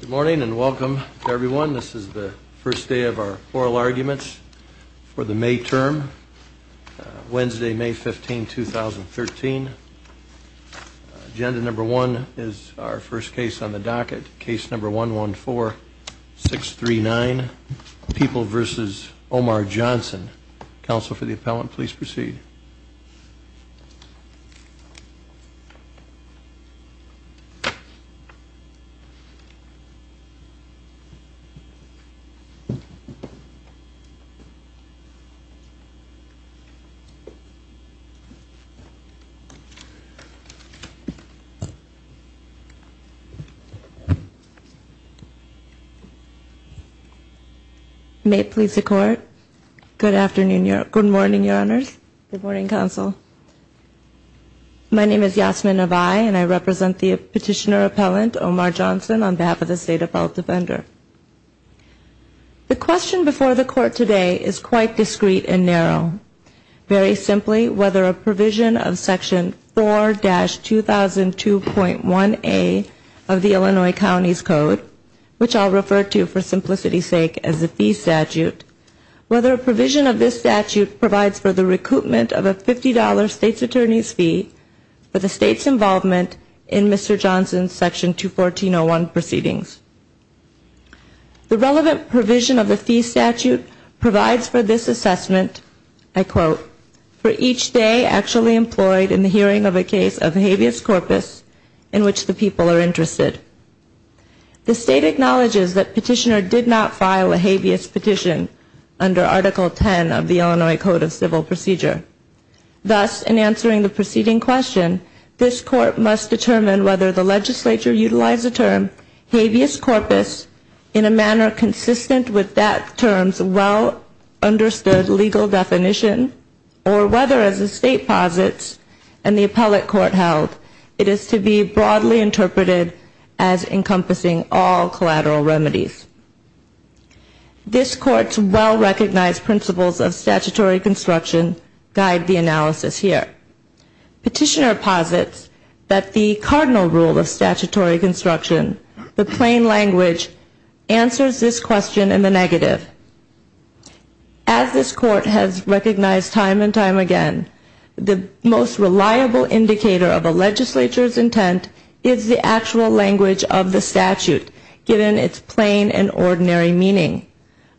Good morning and welcome everyone. This is the first day of our oral arguments for the May term, Wednesday, May 15, 2013. Agenda number one is our first case on the docket, case number 114639, People v. Omar Johnson. Counsel for the appellant, please proceed. May it please the Court. Good morning, Your Honors. Good morning, Counsel. My name is Yasmin Navai and I represent the petitioner appellant, Omar Johnson, on behalf of the State Appellate Defender. The question before the Court today is quite discreet and narrow. Very simply, whether a provision of Section 4-2002.1A of the Illinois County's Code, which I'll refer to for simplicity's sake as a fee statute, whether a provision of this statute provides for the recoupment of a $50 state's attorney's fee for the state's involvement in Mr. Johnson's Section 214-01 proceedings. The relevant provision of the fee statute provides for this assessment, I quote, for each day actually employed in the hearing of a case of habeas corpus in which the people are interested. The State acknowledges that petitioner did not file a habeas petition under Article 10 of the Illinois Code of Civil Procedure. Thus, in answering the preceding question, this Court must determine whether the legislature utilized the term habeas corpus in a manner consistent with that term's well understood legal definition, or whether, as the State posits and the Appellate Court held, it is to be broadly interpreted as encompassing all collateral remedies. This Court's well recognized principles of statutory construction guide the analysis here. Petitioner posits that the cardinal rule of statutory construction, the plain language, answers this question in the negative. As this Court has recognized time and time again, the most reliable indicator of a legislature's intent is the actual language of the statute, given its plain and ordinary meaning.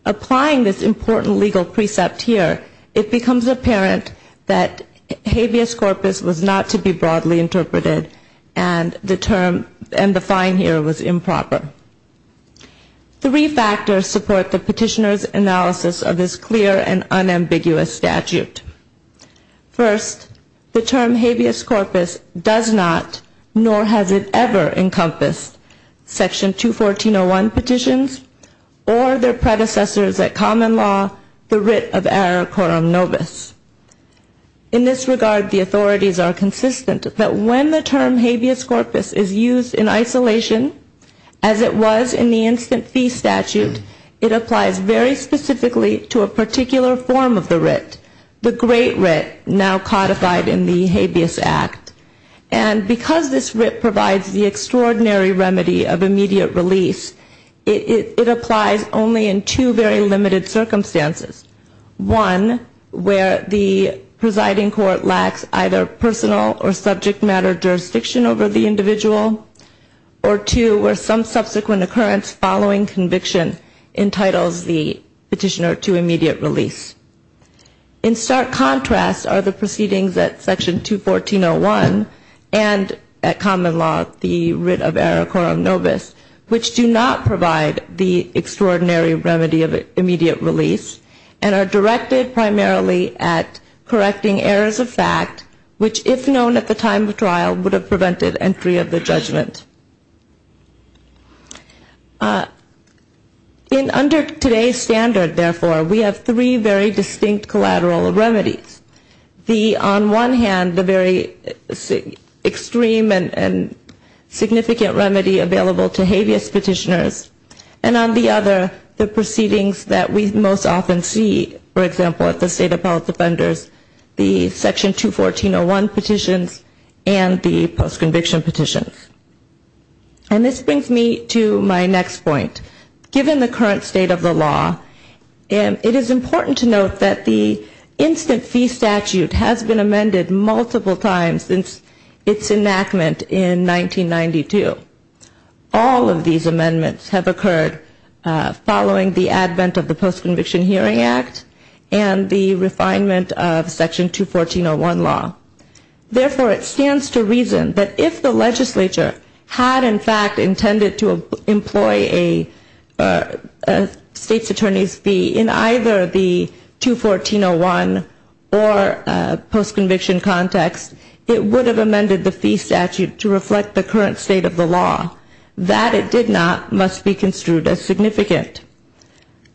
Applying this important legal precept here, it becomes apparent that habeas corpus was not to be broadly interpreted and the term and the fine here was improper. Three factors support the petitioner's analysis of this clear and unambiguous statute. First, the term habeas corpus does not, nor has it ever encompassed Section 214.01 petitions or their predecessors at common law, the writ of error quorum nobis. In this regard, the authorities are consistent that when the term habeas corpus is used in isolation, as it was in the instant fee statute, it applies very specifically to a particular form of the writ, the great writ now codified in the Habeas Act. And because this writ provides the extraordinary remedy of immediate release, it applies only in two very limited circumstances. One, where the presiding court lacks either personal or subject matter jurisdiction over the individual, or two, where some subsequent occurrence following conviction entitles the petitioner to immediate release. In stark contrast are the proceedings at Section 214.01 and at common law, the writ of error quorum nobis, which do not provide the extraordinary remedy of immediate release and are directed primarily at correcting errors of fact, which if known at the time of trial would have prevented entry of the judgment. In under today's standard, therefore, we have three very distinct collateral remedies. The, on one hand, the very extreme and significant remedy available to habeas petitioners, and on the other, the proceedings that we most often see, for example, at the State Appellate Defenders, the Section 214.01 petitions and the post-conviction petitions. And this brings me to my next point. Given the current state of the law, it is important to note that the instant fee statute has been amended multiple times since its enactment in 1992. All of these amendments have occurred following the advent of the Post-Conviction Hearing Act and the refinement of Section 214.01 law. Therefore, it stands to reason that if the legislature had, in fact, intended to employ a state's attorney's fee in either the 214.01 or post-conviction context, it would have amended the fee statute to reflect the current state of the law. That it did not must be construed as significant.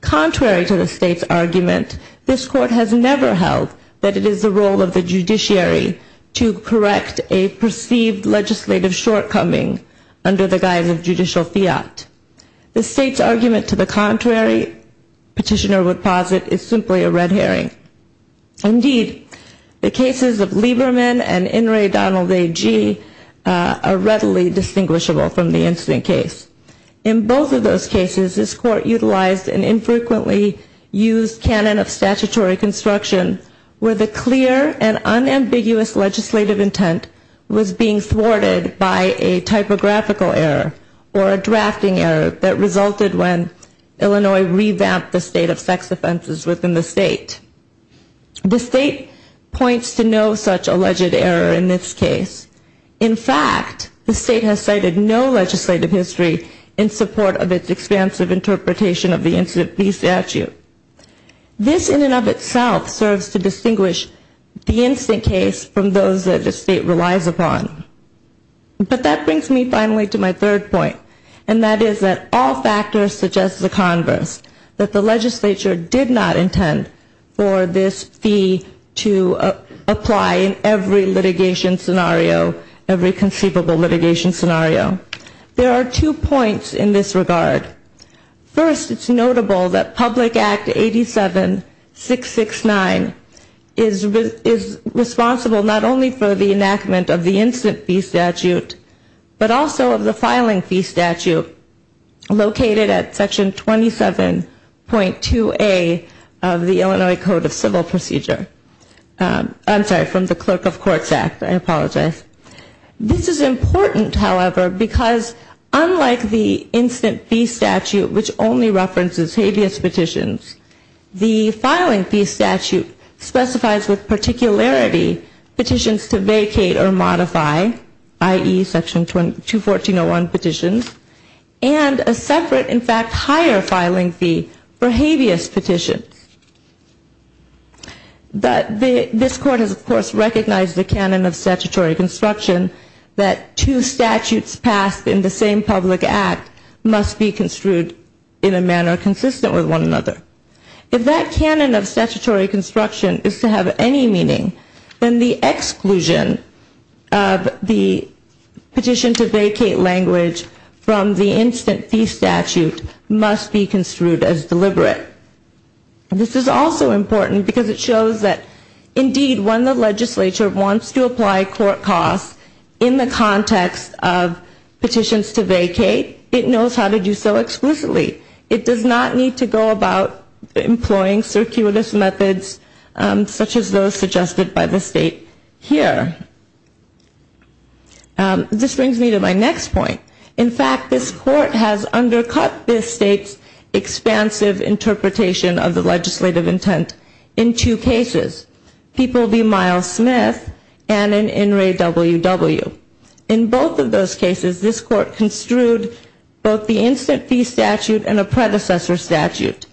Contrary to the state's argument, this Court has never held that it is the role of the judiciary to correct a perceived legislative shortcoming under the guise of judicial fiat. The state's argument to the contrary, petitioner would posit, is simply a red herring. Indeed, the cases of Lieberman and In re Donald A.G. are readily distinguishable from the incident case. In both of those cases, this Court utilized an infrequently used canon of statutory construction where the clear and unambiguous legislative intent was being thwarted by a typographical error or a drafting error that resulted when Illinois revamped the state of sex offenses within the state. The state points to no such alleged error in this case. In fact, the state has cited no legislative history in support of its expansive interpretation of the incident fee statute. This in and of itself serves to distinguish the incident case from those that the state relies upon. But that brings me finally to my third point, and that is that all factors suggest the converse. That the legislature did not intend for this fee to apply in every litigation scenario, every conceivable litigation scenario. There are two points in this regard. First, it's notable that Public Act 87-669 is responsible not only for the enactment of the incident fee statute, but also of the filing fee statute located at Section 27.2A of the Illinois Code of Civil Procedure. I'm sorry, from the Clerk of Courts Act. I apologize. This is important, however, because unlike the incident fee statute, which only references habeas petitions, the filing fee statute specifies with particularity petitions to vacate or modify, i.e., Section 214.01 petitions, and a separate, in fact, higher filing fee for habeas petitions. But this Court has, of course, recognized the canon of statutory construction that two statutes passed in the same public act must be construed in a manner consistent with one another. If that canon of statutory construction is to have any meaning, then the exclusion of the public act, the petition to vacate language from the incident fee statute must be construed as deliberate. This is also important because it shows that, indeed, when the legislature wants to apply court costs in the context of petitions to vacate, it knows how to do so explicitly. It does not need to go about employing circuitous methods such as those suggested by the State here. This brings me to my next point. In fact, this Court has undercut this State's expansive interpretation of the legislative intent in two cases. People v. Miles Smith and in In re. W. W. In both of those cases, this Court construed both the incident fee statute and a predecessor statute,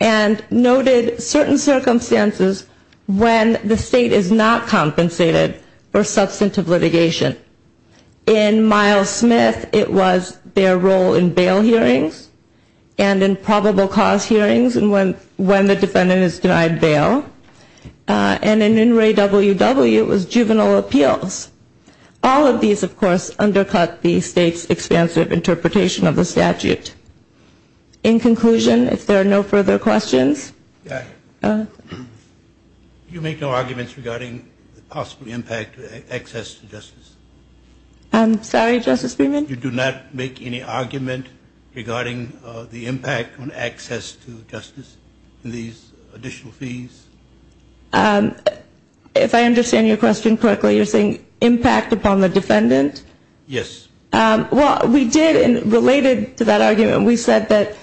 and noted certain circumstances when the State is not compensated for substantive litigation. In Miles Smith, it was their role in bail hearings and in probable cause hearings and when the defendant is denied bail. And in In re. W. W., it was juvenile appeals. All of these, of course, undercut the State's expansive interpretation of the statute. In conclusion, if there are no further questions. Justice Breyman. You do not make any argument regarding the impact on access to justice in these additional fees? If I understand your question correctly, you're saying impact upon the defendant? Yes. Well, we did, and related to that argument, we said that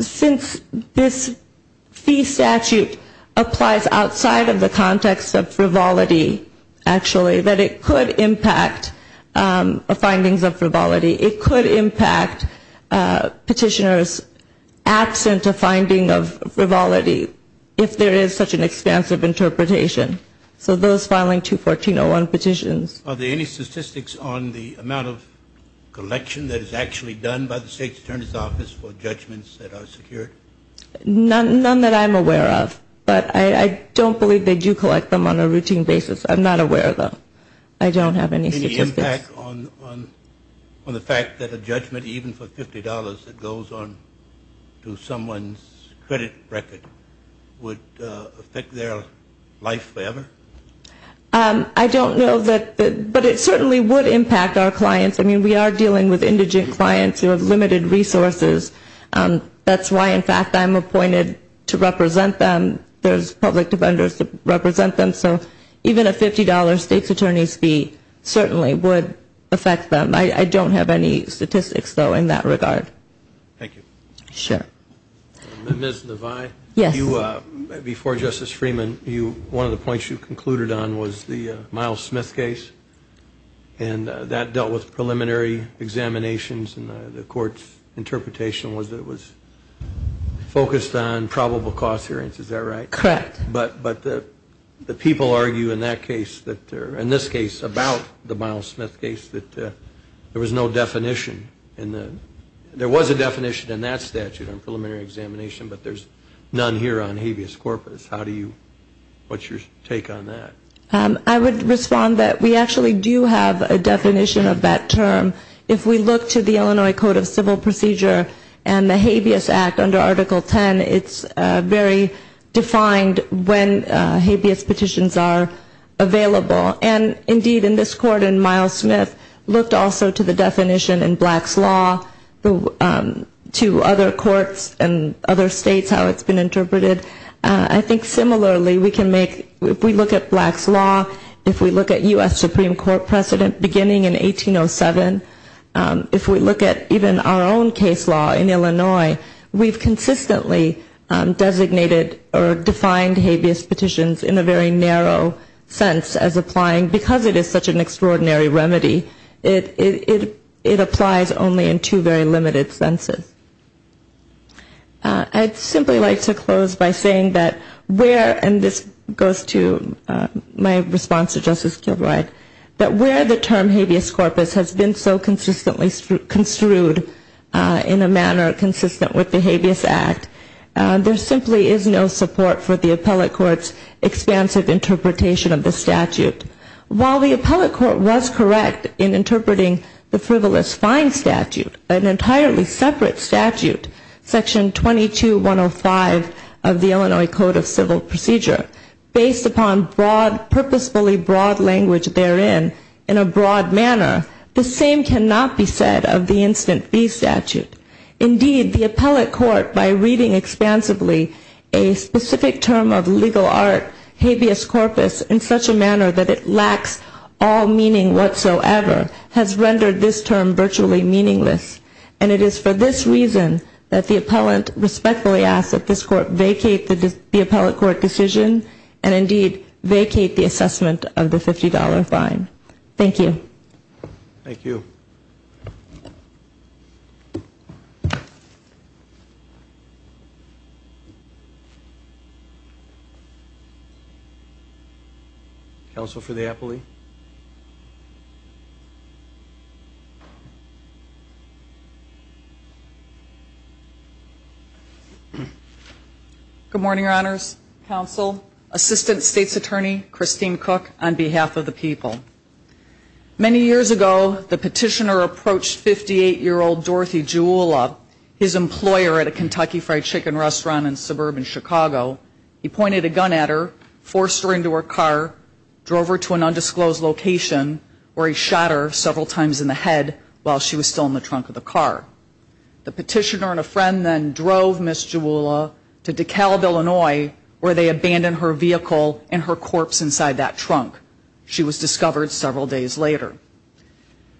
since this fee statute applies outside of the context of frivolity, actually, that it could impact findings of frivolity. It could impact petitioners absent a finding of frivolity if there is such an expansive interpretation. So those filing 214.01 petitions. Are there any statistics on the amount of collection that is actually done by the State's attorney's office for judgments that are secured? None that I'm aware of, but I don't believe they do collect them on a routine basis. I'm not aware of them. I don't have any statistics. Any impact on the fact that a judgment, even for $50, that goes on to someone's credit record, would affect their life forever? I don't know, but it certainly would impact our clients. I mean, we are dealing with indigent clients who have limited resources. That's why, in fact, I'm appointed to represent them. There's public defenders that represent them. So even a $50 State's attorney's fee certainly would affect them. I don't have any statistics, though, in that regard. Thank you. Ms. Navi, before Justice Freeman, one of the points you concluded on was the Miles Smith case. And that dealt with preliminary examinations, and the Court's interpretation was that it was focused on probable cause hearings. Is that right? Correct. But the people argue in that case, in this case, about the Miles Smith case, that there was no definition. There was a definition in that statute on preliminary examination, but there's none here on habeas corpus. What's your take on that? I would respond that we actually do have a definition of that term. If we look to the Illinois Code of Civil Procedure and the Habeas Act under Article 10, it's very defined when habeas petitions are available. And indeed, in this Court, in Miles Smith, looked also to the definition in Black's Law, to other courts and other states how it's been interpreted. I think similarly, we can make, if we look at Black's Law, if we look at U.S. Supreme Court precedent beginning in 1807, if we look at even our own case law in Illinois, we've consistently designated or defined habeas petitions in a very narrow sense as applying, because it is such an extraordinary remedy, it applies only in two very limited senses. I'd simply like to close by saying that where, and this goes to my response to Justice Kilbride, that where the term habeas corpus has been so consistently construed in a manner consistent with the Habeas Act, there simply is no support for the appellate court's expansive interpretation of the statute. While the appellate court was correct in interpreting the frivolous fine statute, an entirely separate statute, Section 22-105 of the Illinois Code of Civil Procedure, based upon purposefully broad language therein in a broad manner, the same cannot be said of the instant fee statute. Indeed, the appellate court, by reading expansively a specific term of legal art, habeas corpus, in such a manner that it lacks all meaning whatsoever, has rendered this term virtually meaningless. And it is for this reason that the appellant respectfully asks that this court vacate the appellate court decision, and indeed, vacate the assessment of the $50 fine. Thank you. Thank you. Counsel for the appellee. Good morning, Your Honors. Counsel, Assistant State's Attorney, Christine Cook, on behalf of the people. Many years ago, the petitioner approached 58-year-old Dorothy Juula, his employer at a Kentucky Fried Chicken restaurant in suburban Chicago. He pointed a gun at her, forced her into her car, drove her to an undisclosed location, where he shot her several times in the head while she was still in the trunk of the car. The petitioner and a friend then drove Ms. Juula to DeKalb, Illinois, where they abandoned her vehicle and her corpse inside that trunk. She was discovered several days later.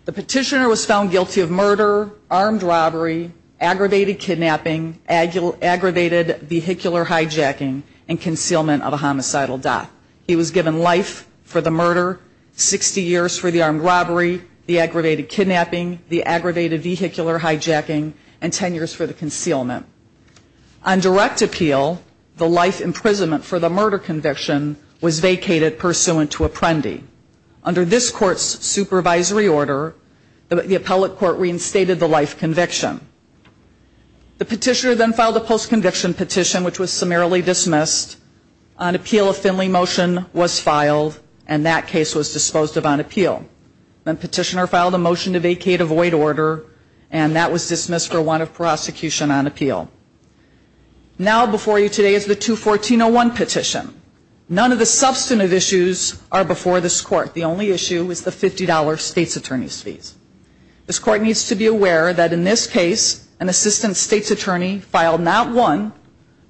The petitioner was found guilty of murder, armed robbery, aggravated kidnapping, aggravated vehicular hijacking, and concealment of a homicidal death. He was given life for the murder, 60 years for the armed robbery, the aggravated kidnapping, the aggravated vehicular hijacking, and 10 years for the concealment. On direct appeal, the life imprisonment for the murder conviction was vacated pursuant to apprendi. Under this court's supervisory order, the appellate court reinstated the life conviction. The petitioner then filed a post-conviction petition, which was summarily dismissed. On appeal, a Finley motion was filed, and that case was disposed of on appeal. The petitioner filed a motion to vacate a void order, and that was dismissed for want of prosecution on appeal. Now before you today is the 214-01 petition. None of the substantive issues are before this court. The only issue is the $50 state's attorney's fees. This court needs to be aware that in this case, an assistant state's attorney filed not one,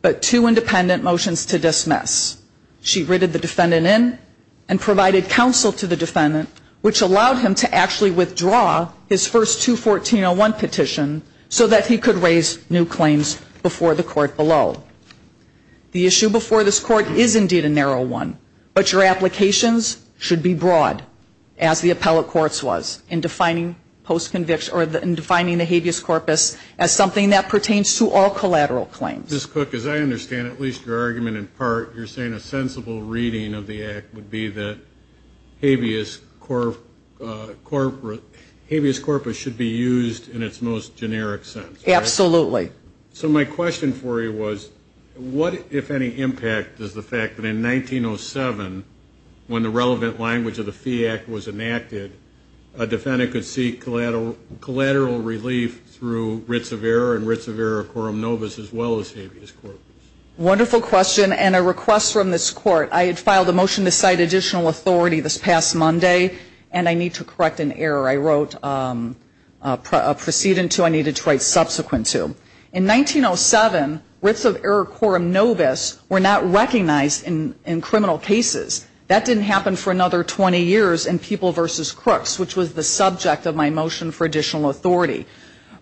but two independent motions to dismiss. She writted the defendant in and provided counsel to the defendant, which allowed him to actually withdraw his first 214-01 petition so that he could raise new claims before the court below. The issue before this court is indeed a narrow one, but your applications should be broad, as the appellate court's was, in defining post-conviction, or in defining the habeas corpus as something that pertains to all collateral claims. Ms. Cook, as I understand it, at least your argument in part, you're saying a sensible reading of the act would be that habeas corpus should be used in its most generic sense, right? Absolutely. So my question for you was, what, if any, impact does the fact that in 1907, when the relevant language of the Fee Act was enacted, a defendant could seek collateral relief through writs of error and writs of error quorum novus as well as habeas corpus? Wonderful question, and a request from this court. I had filed a motion to cite additional authority this past Monday, and I need to correct an error I wrote a precedence to, I needed to write subsequent to. In 1907, writs of error quorum novus were not recognized in criminal cases. That didn't happen for another 20 years in People v. Crooks, which was the subject of my motion for additional authority.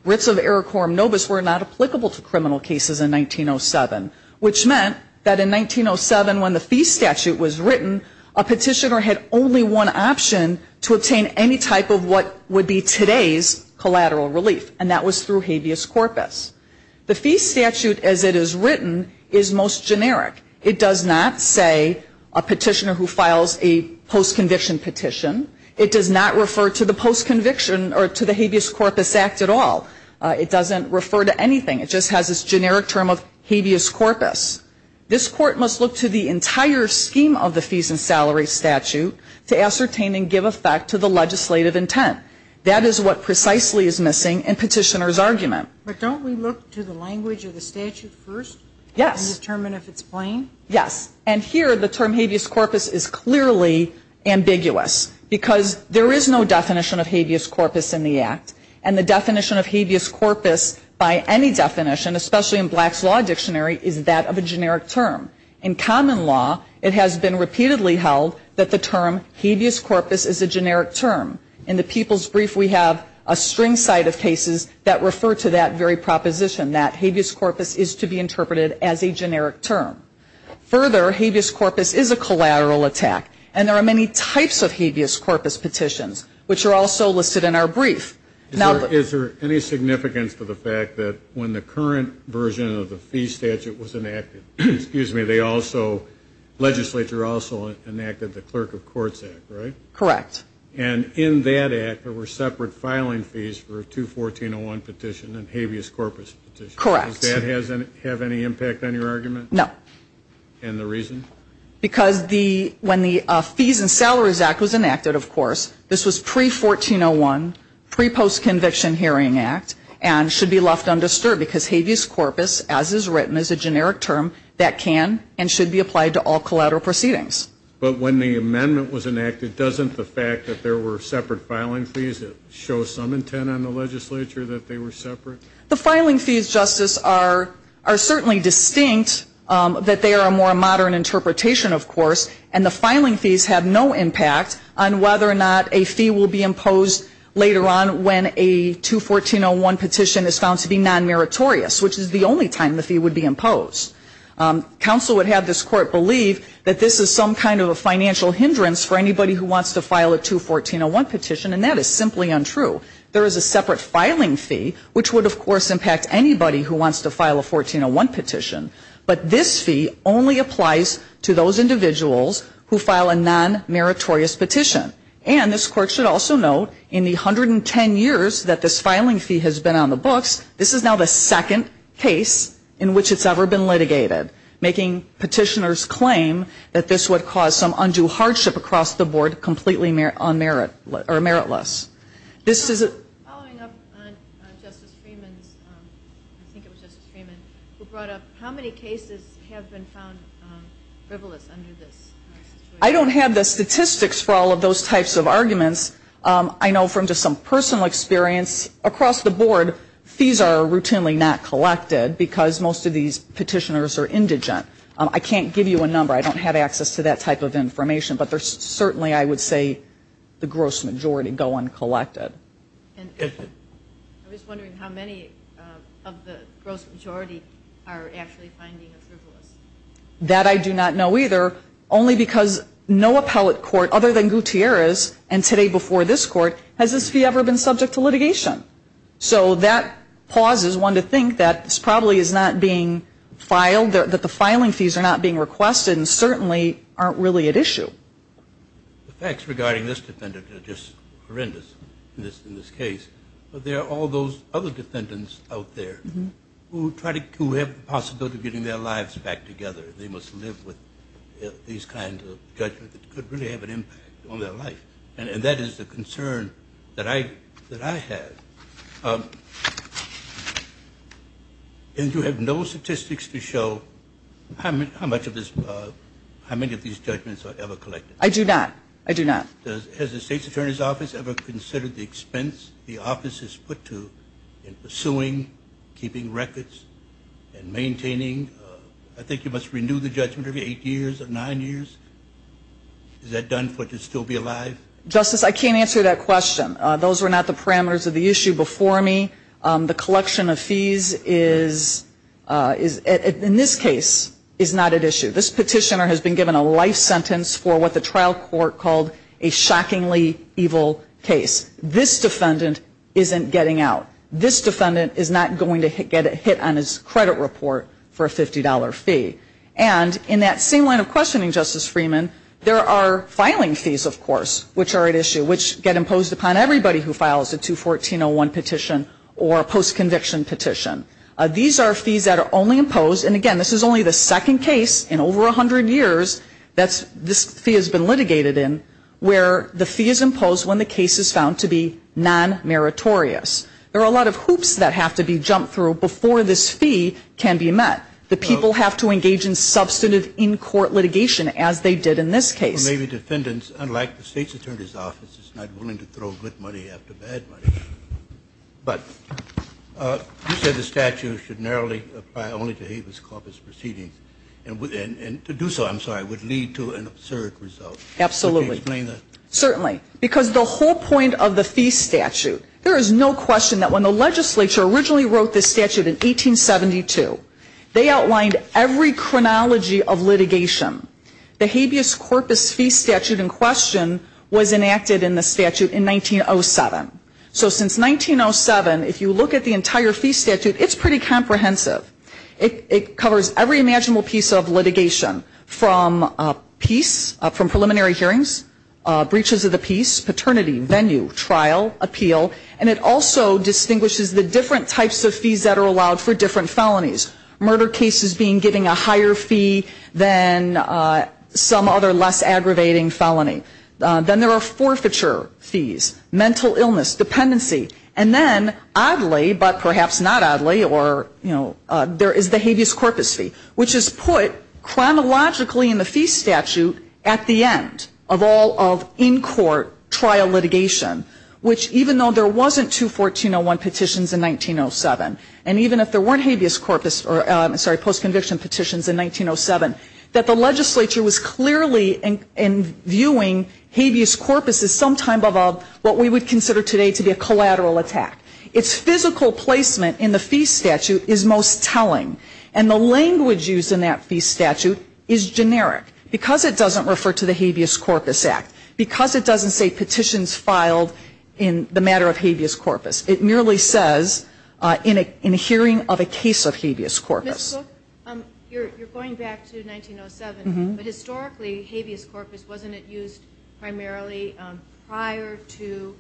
Writs of error quorum novus were not applicable to criminal cases in 1907. Which meant that in 1907, when the fee statute was written, a petitioner had only one option to obtain any type of what would be today's collateral relief, and that was through habeas corpus. The fee statute as it is written is most generic. It does not say a petitioner who files a postconviction petition. It does not refer to the postconviction or to the habeas corpus act at all. It doesn't refer to anything. It just has this generic term of habeas corpus. This Court must look to the entire scheme of the fees and salaries statute to ascertain and give effect to the legislative intent. That is what precisely is missing in petitioner's argument. But don't we look to the language of the statute first? Yes. And determine if it's plain? Yes. And here, the term habeas corpus is clearly ambiguous, because there is no definition of habeas corpus in the Act. And the definition of habeas corpus by any definition, especially in Black's Law Dictionary, is that of a generic term. In common law, it has been repeatedly held that the term habeas corpus is a generic term. In the People's Brief, we have a string side of cases that refer to that very proposition, that habeas corpus is to be interpreted as a generic term. Further, habeas corpus is a collateral attack. And there are many types of habeas corpus petitions, which are also listed in our brief. Now, is there any significance to the fact that when the current version of the fee statute was enacted, excuse me, they also, legislature also enacted the Clerk of Courts Act, right? Correct. And in that Act, there were separate filing fees for 214-01 petition and habeas corpus petition. Correct. Does that have any impact on your argument? No. And the reason? Because when the Fees and Salaries Act was enacted, of course, this was pre-1401, pre-post-conviction hearing act, and should be left undisturbed because habeas corpus, as is written, is a generic term that can and should be applied to all collateral proceedings. But when the amendment was enacted, doesn't the fact that there were separate filing fees show some intent on the legislature that they were separate? The filing fees, Justice, are certainly distinct, that they are a more modern interpretation, of course, and the filing fees have no impact on whether or not a fee will be imposed later on when a 214-01 petition is found to be non-meritorious, which is the only time the fee would be imposed. Counsel would have this court believe that this is some kind of a financial hindrance for anybody who wants to file a 214-01 petition, and that is simply untrue. There is a separate filing fee, which would, of course, impact anybody who wants to file a 1401 petition, but this fee only applies to those individuals who file a non-meritorious petition. And this court should also note, in the 110 years that this filing fee has been on the books, this is now the second case in which it's ever been litigated, making petitioners claim that this would cause some undue hardship across the board, completely unmerit, or meritless. This is a... Following up on Justice Freeman's, I think it was Justice Freeman, who brought up, how many cases have been found frivolous under this situation? I don't have the statistics for all of those types of arguments. I know from just some personal experience, across the board, fees are routinely not collected, because most of these petitioners are indigent. I can't give you a number, I don't have access to that type of information, but there's certainly, I would say, the gross majority go uncollected. And I was wondering how many of the gross majority are actually finding it frivolous? That I do not know either, only because no appellate court, other than Gutierrez, and today before this court, has this fee ever been subject to litigation. So that pauses one to think that this probably is not being filed, that the filing fees are not being requested, and certainly aren't really at issue. The facts regarding this defendant are just horrendous in this case. But there are all those other defendants out there who try to, who have the possibility of getting their lives back together. They must live with these kinds of judgments that could really have an impact on their life. And that is the concern that I, that I have. And you have no statistics to show how much of this, how many of these judgments are ever collected? I do not. I do not. Does, has the state's attorney's office ever considered the expense the office is put to in pursuing, keeping records, and maintaining? I think you must renew the judgment every eight years or nine years. Is that done for it to still be alive? Justice, I can't answer that question. Those were not the parameters of the issue before me. The collection of fees is, in this case, is not at issue. This petitioner has been given a life sentence for what the trial court called a shockingly evil case. This defendant isn't getting out. This defendant is not going to get hit on his credit report for a $50 fee. And in that same line of questioning, Justice Freeman, there are filing fees, of course, which are at issue, which get imposed upon everybody who files a 214-01 petition or a post-conviction petition. These are fees that are only imposed, and again, this is only the second case in over 100 years that this fee has been litigated in, where the fee is imposed when the case is found to be non-meritorious. There are a lot of hoops that have to be jumped through before this fee can be met. The people have to engage in substantive in-court litigation, as they did in this case. And maybe defendants, unlike the State's Attorney's Office, is not willing to throw good money after bad money. But you said the statute should narrowly apply only to habeas corpus proceedings. And to do so, I'm sorry, would lead to an absurd result. Absolutely. Can you explain that? Certainly. Because the whole point of the fee statute, there is no question that when the legislature originally wrote this statute in 1872, they outlined every chronology of litigation. The habeas corpus fee statute in question was enacted in the statute in 1907. So since 1907, if you look at the entire fee statute, it's pretty comprehensive. It covers every imaginable piece of litigation, from peace, from preliminary hearings, breaches of the peace, paternity, venue, trial, appeal. And it also distinguishes the different types of fees that are allowed for different felonies. Murder cases being given a higher fee than some other less aggravating felony. Then there are forfeiture fees, mental illness, dependency. And then, oddly, but perhaps not oddly, or, you know, there is the habeas corpus fee, which is put chronologically in the fee statute at the end of all of in-court trial litigation. Which, even though there wasn't two 1401 petitions in 1907, and even if there weren't habeas corpus, or, sorry, post-conviction petitions in 1907, that the legislature was clearly viewing habeas corpus as some type of what we would consider today to be a collateral attack. Its physical placement in the fee statute is most telling. And the language used in that fee statute is generic. Because it doesn't refer to the habeas corpus act. Because it doesn't say petitions filed in the matter of habeas corpus. It merely says, in a hearing of a case of habeas corpus. Ms. Cook, you're going back to 1907, but historically, habeas corpus, wasn't it used primarily prior to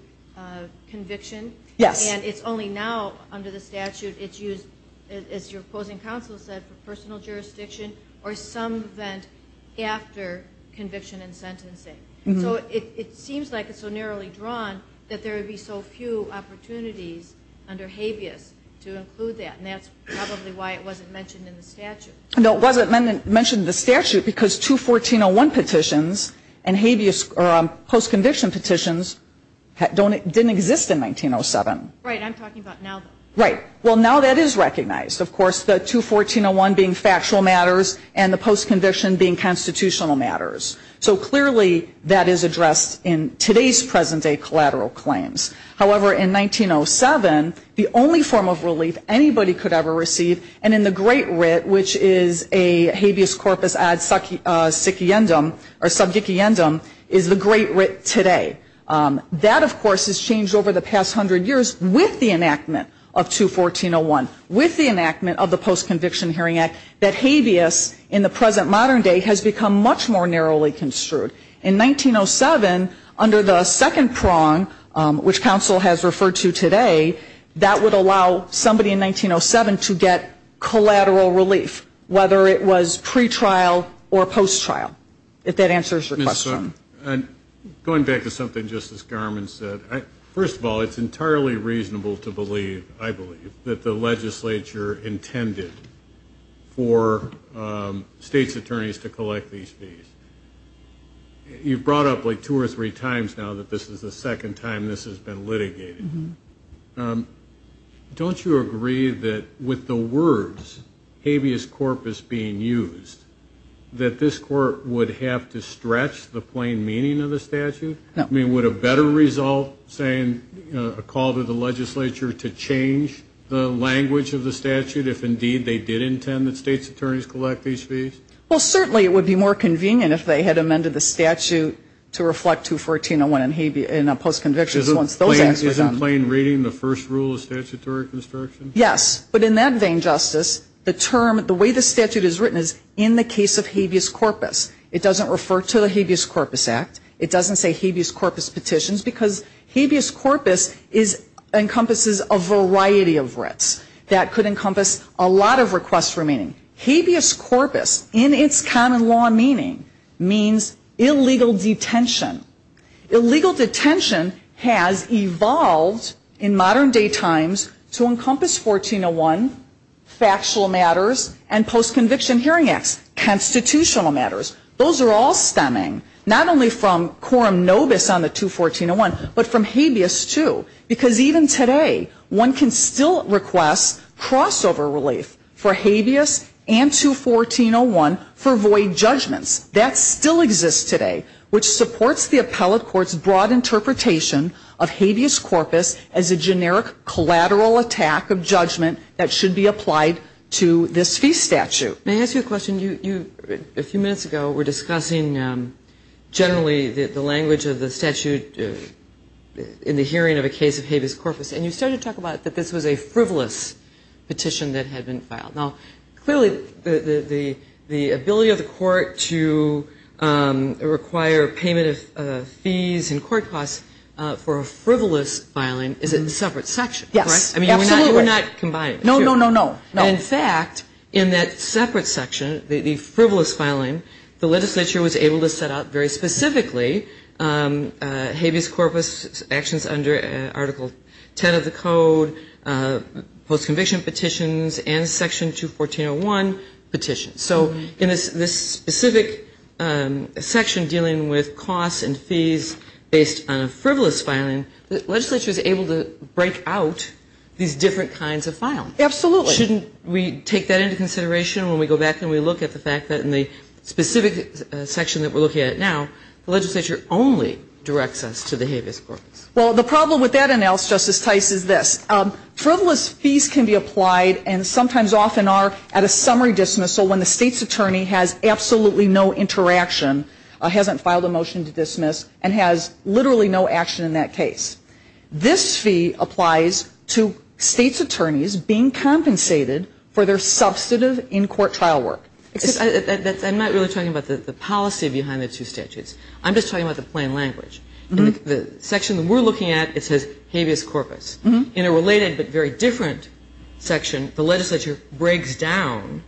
conviction? Yes. And it's only now, under the statute, it's used, as your opposing counsel said, for personal jurisdiction, or some event after conviction and sentencing. So it seems like it's so narrowly drawn that there would be so few opportunities under habeas to include that. And that's probably why it wasn't mentioned in the statute. No, it wasn't mentioned in the statute because two 1401 petitions and habeas, or post-conviction petitions, didn't exist in 1907. Right, I'm talking about now. Right. Well, now that is recognized, of course, the two 1401 being factual matters and the post-conviction being constitutional matters. So clearly, that is addressed in today's present-day collateral claims. However, in 1907, the only form of relief anybody could ever receive, and in the great writ, which is a habeas corpus ad subjiciendum, or subjiciendum, is the great writ today. That, of course, has changed over the past 100 years with the enactment of two 1401, with the enactment of the Post-Conviction Hearing Act, that habeas in the present modern day has become much more narrowly construed. In 1907, under the second prong, which counsel has referred to today, that would allow somebody in 1907 to get collateral relief, whether it was pretrial or post-trial, if that answers your question. Going back to something Justice Garmon said, first of all, it's entirely reasonable to believe, I believe, that the legislature intended for state's attorneys to collect these fees. You've brought up like two or three times now that this is the second time this has been litigated. Don't you agree that with the words habeas corpus being used, that this court would have to stretch the plain meaning of the statute? I mean, would a better result saying a call to the legislature to change the language of the statute, if indeed they did intend that state's attorneys collect these fees? Well, certainly it would be more convenient if they had amended the statute to reflect 21401 in a post-conviction once those acts were done. Isn't plain reading the first rule of statutory construction? Yes, but in that vein, Justice, the term, the way the statute is written is in the case of habeas corpus. It doesn't refer to the Habeas Corpus Act. It doesn't say habeas corpus petitions because habeas corpus encompasses a variety of writs that could encompass a lot of requests remaining. Habeas corpus in its common law meaning means illegal detention. Illegal detention has evolved in modern day times to encompass 1401, factual matters, and post-conviction hearing acts, constitutional matters. Those are all stemming not only from quorum nobis on the 21401, but from habeas too. Because even today, one can still request crossover relief for habeas and 21401 for void judgments. That still exists today, which supports the appellate court's broad interpretation of habeas corpus as a generic collateral attack of judgment that should be applied to this fee statute. May I ask you a question? You, a few minutes ago, were discussing generally the language of the statute in the hearing of a case of habeas corpus, and you started to talk about that this was a frivolous petition that had been filed. Now, clearly, the ability of the court to require payment of fees and court costs for a frivolous filing is in separate sections. Yes. I mean, you're not combining. No, no, no, no. In fact, in that separate section, the frivolous filing, the legislature was able to set post-conviction petitions and section 21401 petitions. So in this specific section dealing with costs and fees based on a frivolous filing, the legislature is able to break out these different kinds of filing. Absolutely. Shouldn't we take that into consideration when we go back and we look at the fact that in the specific section that we're looking at now, the legislature only directs us to the habeas corpus? Well, the problem with that and else, Justice Tice, is this. Frivolous fees can be applied and sometimes often are at a summary dismissal when the state's attorney has absolutely no interaction, hasn't filed a motion to dismiss, and has literally no action in that case. This fee applies to state's attorneys being compensated for their substantive in-court trial work. I'm not really talking about the policy behind the two statutes. I'm just talking about the plain language. The section that we're looking at, it says habeas corpus. In a related but very different section, the legislature breaks down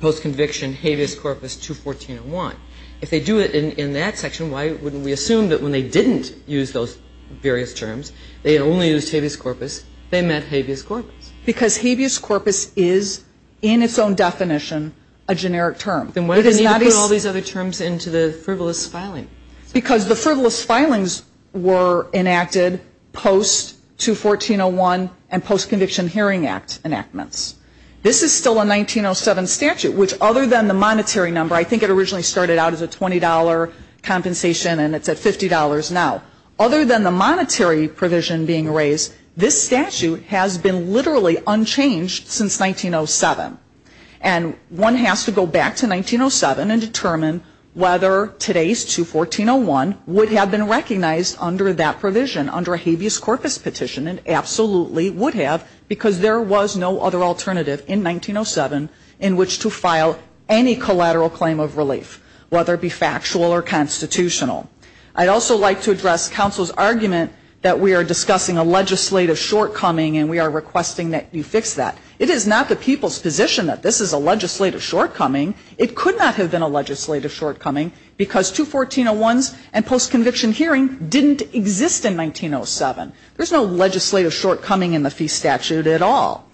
post-conviction habeas corpus 21401. If they do it in that section, why wouldn't we assume that when they didn't use those various terms, they had only used habeas corpus, they meant habeas corpus? Because habeas corpus is, in its own definition, a generic term. Then why did they need to put all these other terms into the frivolous filing? Because the frivolous filings were enacted post-21401 and post-conviction hearing act enactments. This is still a 1907 statute, which other than the monetary number, I think it originally started out as a $20 compensation and it's at $50 now. Other than the monetary provision being raised, this statute has been literally unchanged since 1907. And one has to go back to 1907 and determine whether today's 21401 would have been recognized under that provision, under a habeas corpus petition and absolutely would have because there was no other alternative in 1907 in which to file any collateral claim of relief, whether it be factual or constitutional. I'd also like to address counsel's argument that we are discussing a legislative shortcoming and we are requesting that you fix that. It is not the people's position that this is a legislative shortcoming. It could not have been a legislative shortcoming because 21401s and post-conviction hearing didn't exist in 1907. There's no legislative shortcoming in the fee statute at all.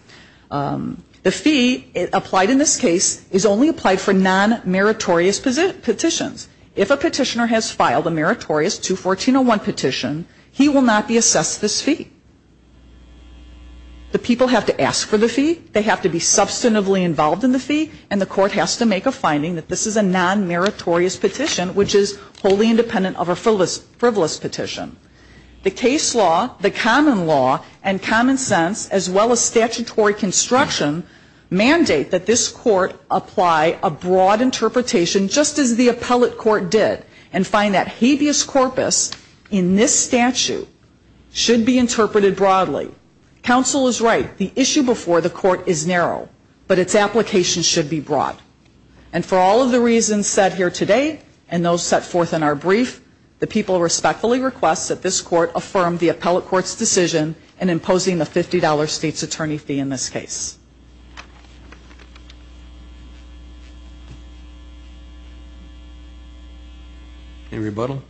The fee applied in this case is only applied for non-meritorious petitions. If a petitioner has filed a meritorious 21401 petition, he will not be assessed this fee. The people have to ask for the fee. They have to be substantively involved in the fee and the court has to make a finding that this is a non-meritorious petition which is wholly independent of a frivolous petition. The case law, the common law and common sense as well as statutory construction mandate that this court apply a broad interpretation just as the appellate court did and find that habeas corpus in this statute should be interpreted broadly. Counsel is right. The issue before the court is narrow, but its application should be broad. And for all of the reasons said here today and those set forth in our brief, the people respectfully request that this court affirm the appellate court's decision in imposing the $50 state's attorney fee in this case. Any rebuttal?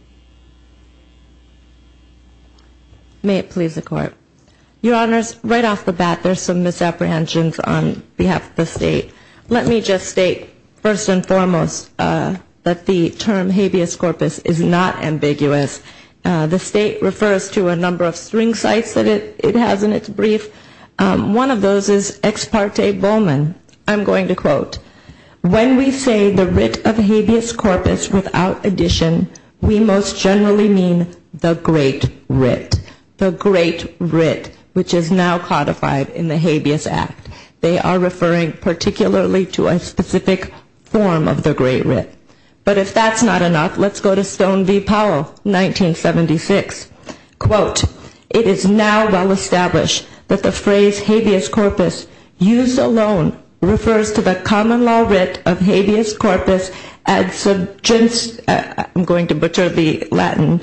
May it please the court. Your honors, right off the bat, there's some misapprehensions on behalf of the state. Let me just state first and foremost that the term habeas corpus is not ambiguous. The state refers to a number of string sites that it has in its brief. One of those is extramarital sexual intercourse. When we say the writ of habeas corpus without addition, we most generally mean the great writ. The great writ, which is now codified in the Habeas Act. They are referring particularly to a specific form of the great writ. But if that's not enough, let's go to Stone v. Powell, 1976. Quote, it is now well established that the phrase habeas corpus used alone refers to the common law writ of habeas corpus as subjunct, I'm going to perturb the Latin,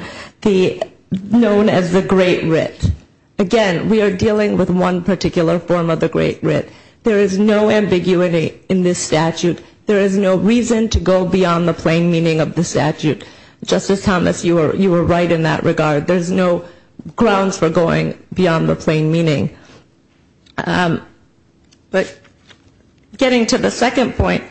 known as the great writ. Again, we are dealing with one particular form of the great writ. There is no ambiguity in this statute. There is no reason to go beyond the plain meaning of the statute. Justice Thomas, you were right in that regard. There's no grounds for going beyond the plain meaning. But getting to the second point,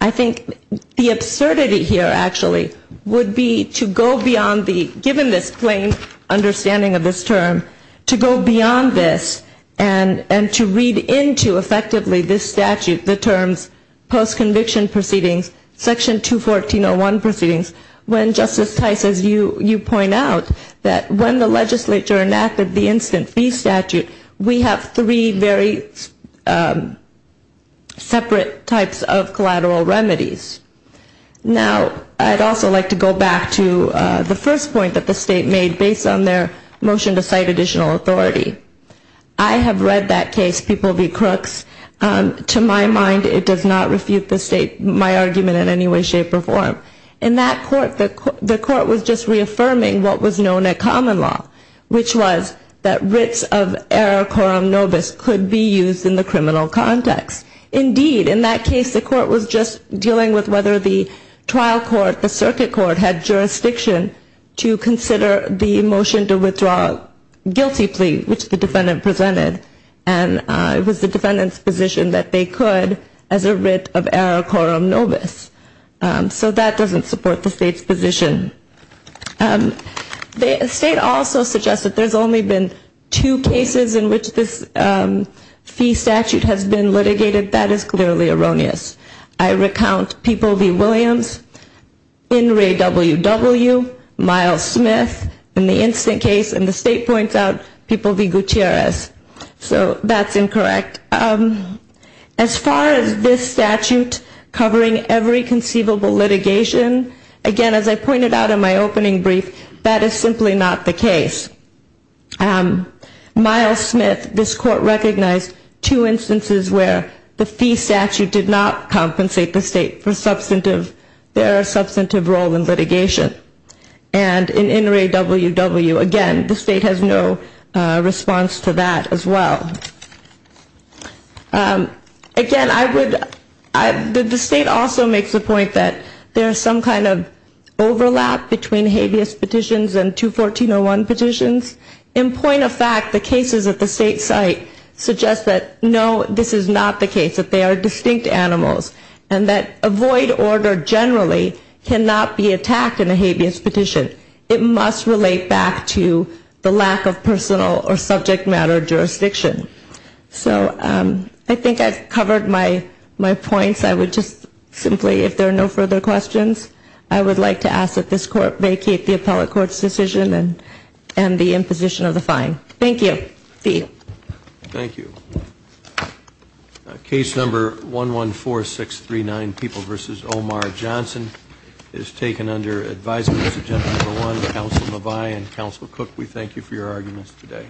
I think the absurdity here, actually, would be to go beyond the, given this plain understanding of this term, to go beyond this and to read into effectively this statute, the terms post-conviction proceedings, section 214.01 proceedings, when Justice Tice, as you point out, that when the legislature enacted the instant fee statute, we have three very separate types of collateral remedies. Now, I'd also like to go back to the first point that the state made based on their motion to cite additional authority. I have read that case, People v. Crooks. To my mind, it does not refute the state, my argument in any way, shape, or form. In that court, the court was just reaffirming what was known at common law, which was that writs of error quorum nobis could be used in the criminal context. Indeed, in that case, the court was just dealing with whether the trial court, the circuit court, had jurisdiction to consider the motion to withdraw guilty plea, which the defendant presented, and it was the defendant's position that they could as a writ of error quorum nobis. So that doesn't support the state's position. The state also suggests that there's only been two cases in which this fee statute has been litigated. That is clearly erroneous. I recount People v. Williams, In re W.W., Miles Smith, in the instant case, and the state points out People v. Gutierrez. So that's incorrect. As far as this statute covering every conceivable litigation, again, as I pointed out in my opening brief, that is simply not the case. Miles Smith, this court recognized two instances where the fee statute did not compensate the state for substantive, their substantive role in litigation. And in In re W.W., again, the state has no response to that as well. Again, I would, the state also makes the point that there's some kind of overlap between habeas petitions and 214.01 petitions. In point of fact, the cases at the state site suggest that, no, this is not the case, that they are distinct animals, and that a void order generally cannot be attacked in a habeas petition. It must relate back to the lack of personal or subject matter jurisdiction. So I think I've covered my points. I would just simply, if there are no further questions, I would like to ask that this court vacate the appellate court's decision and the imposition of the fine. Thank you. Thee. Thank you. Case number 114639, People v. Omar Johnson, is taken under advisement as agenda number one, and Counsel Cook, we thank you for your arguments today.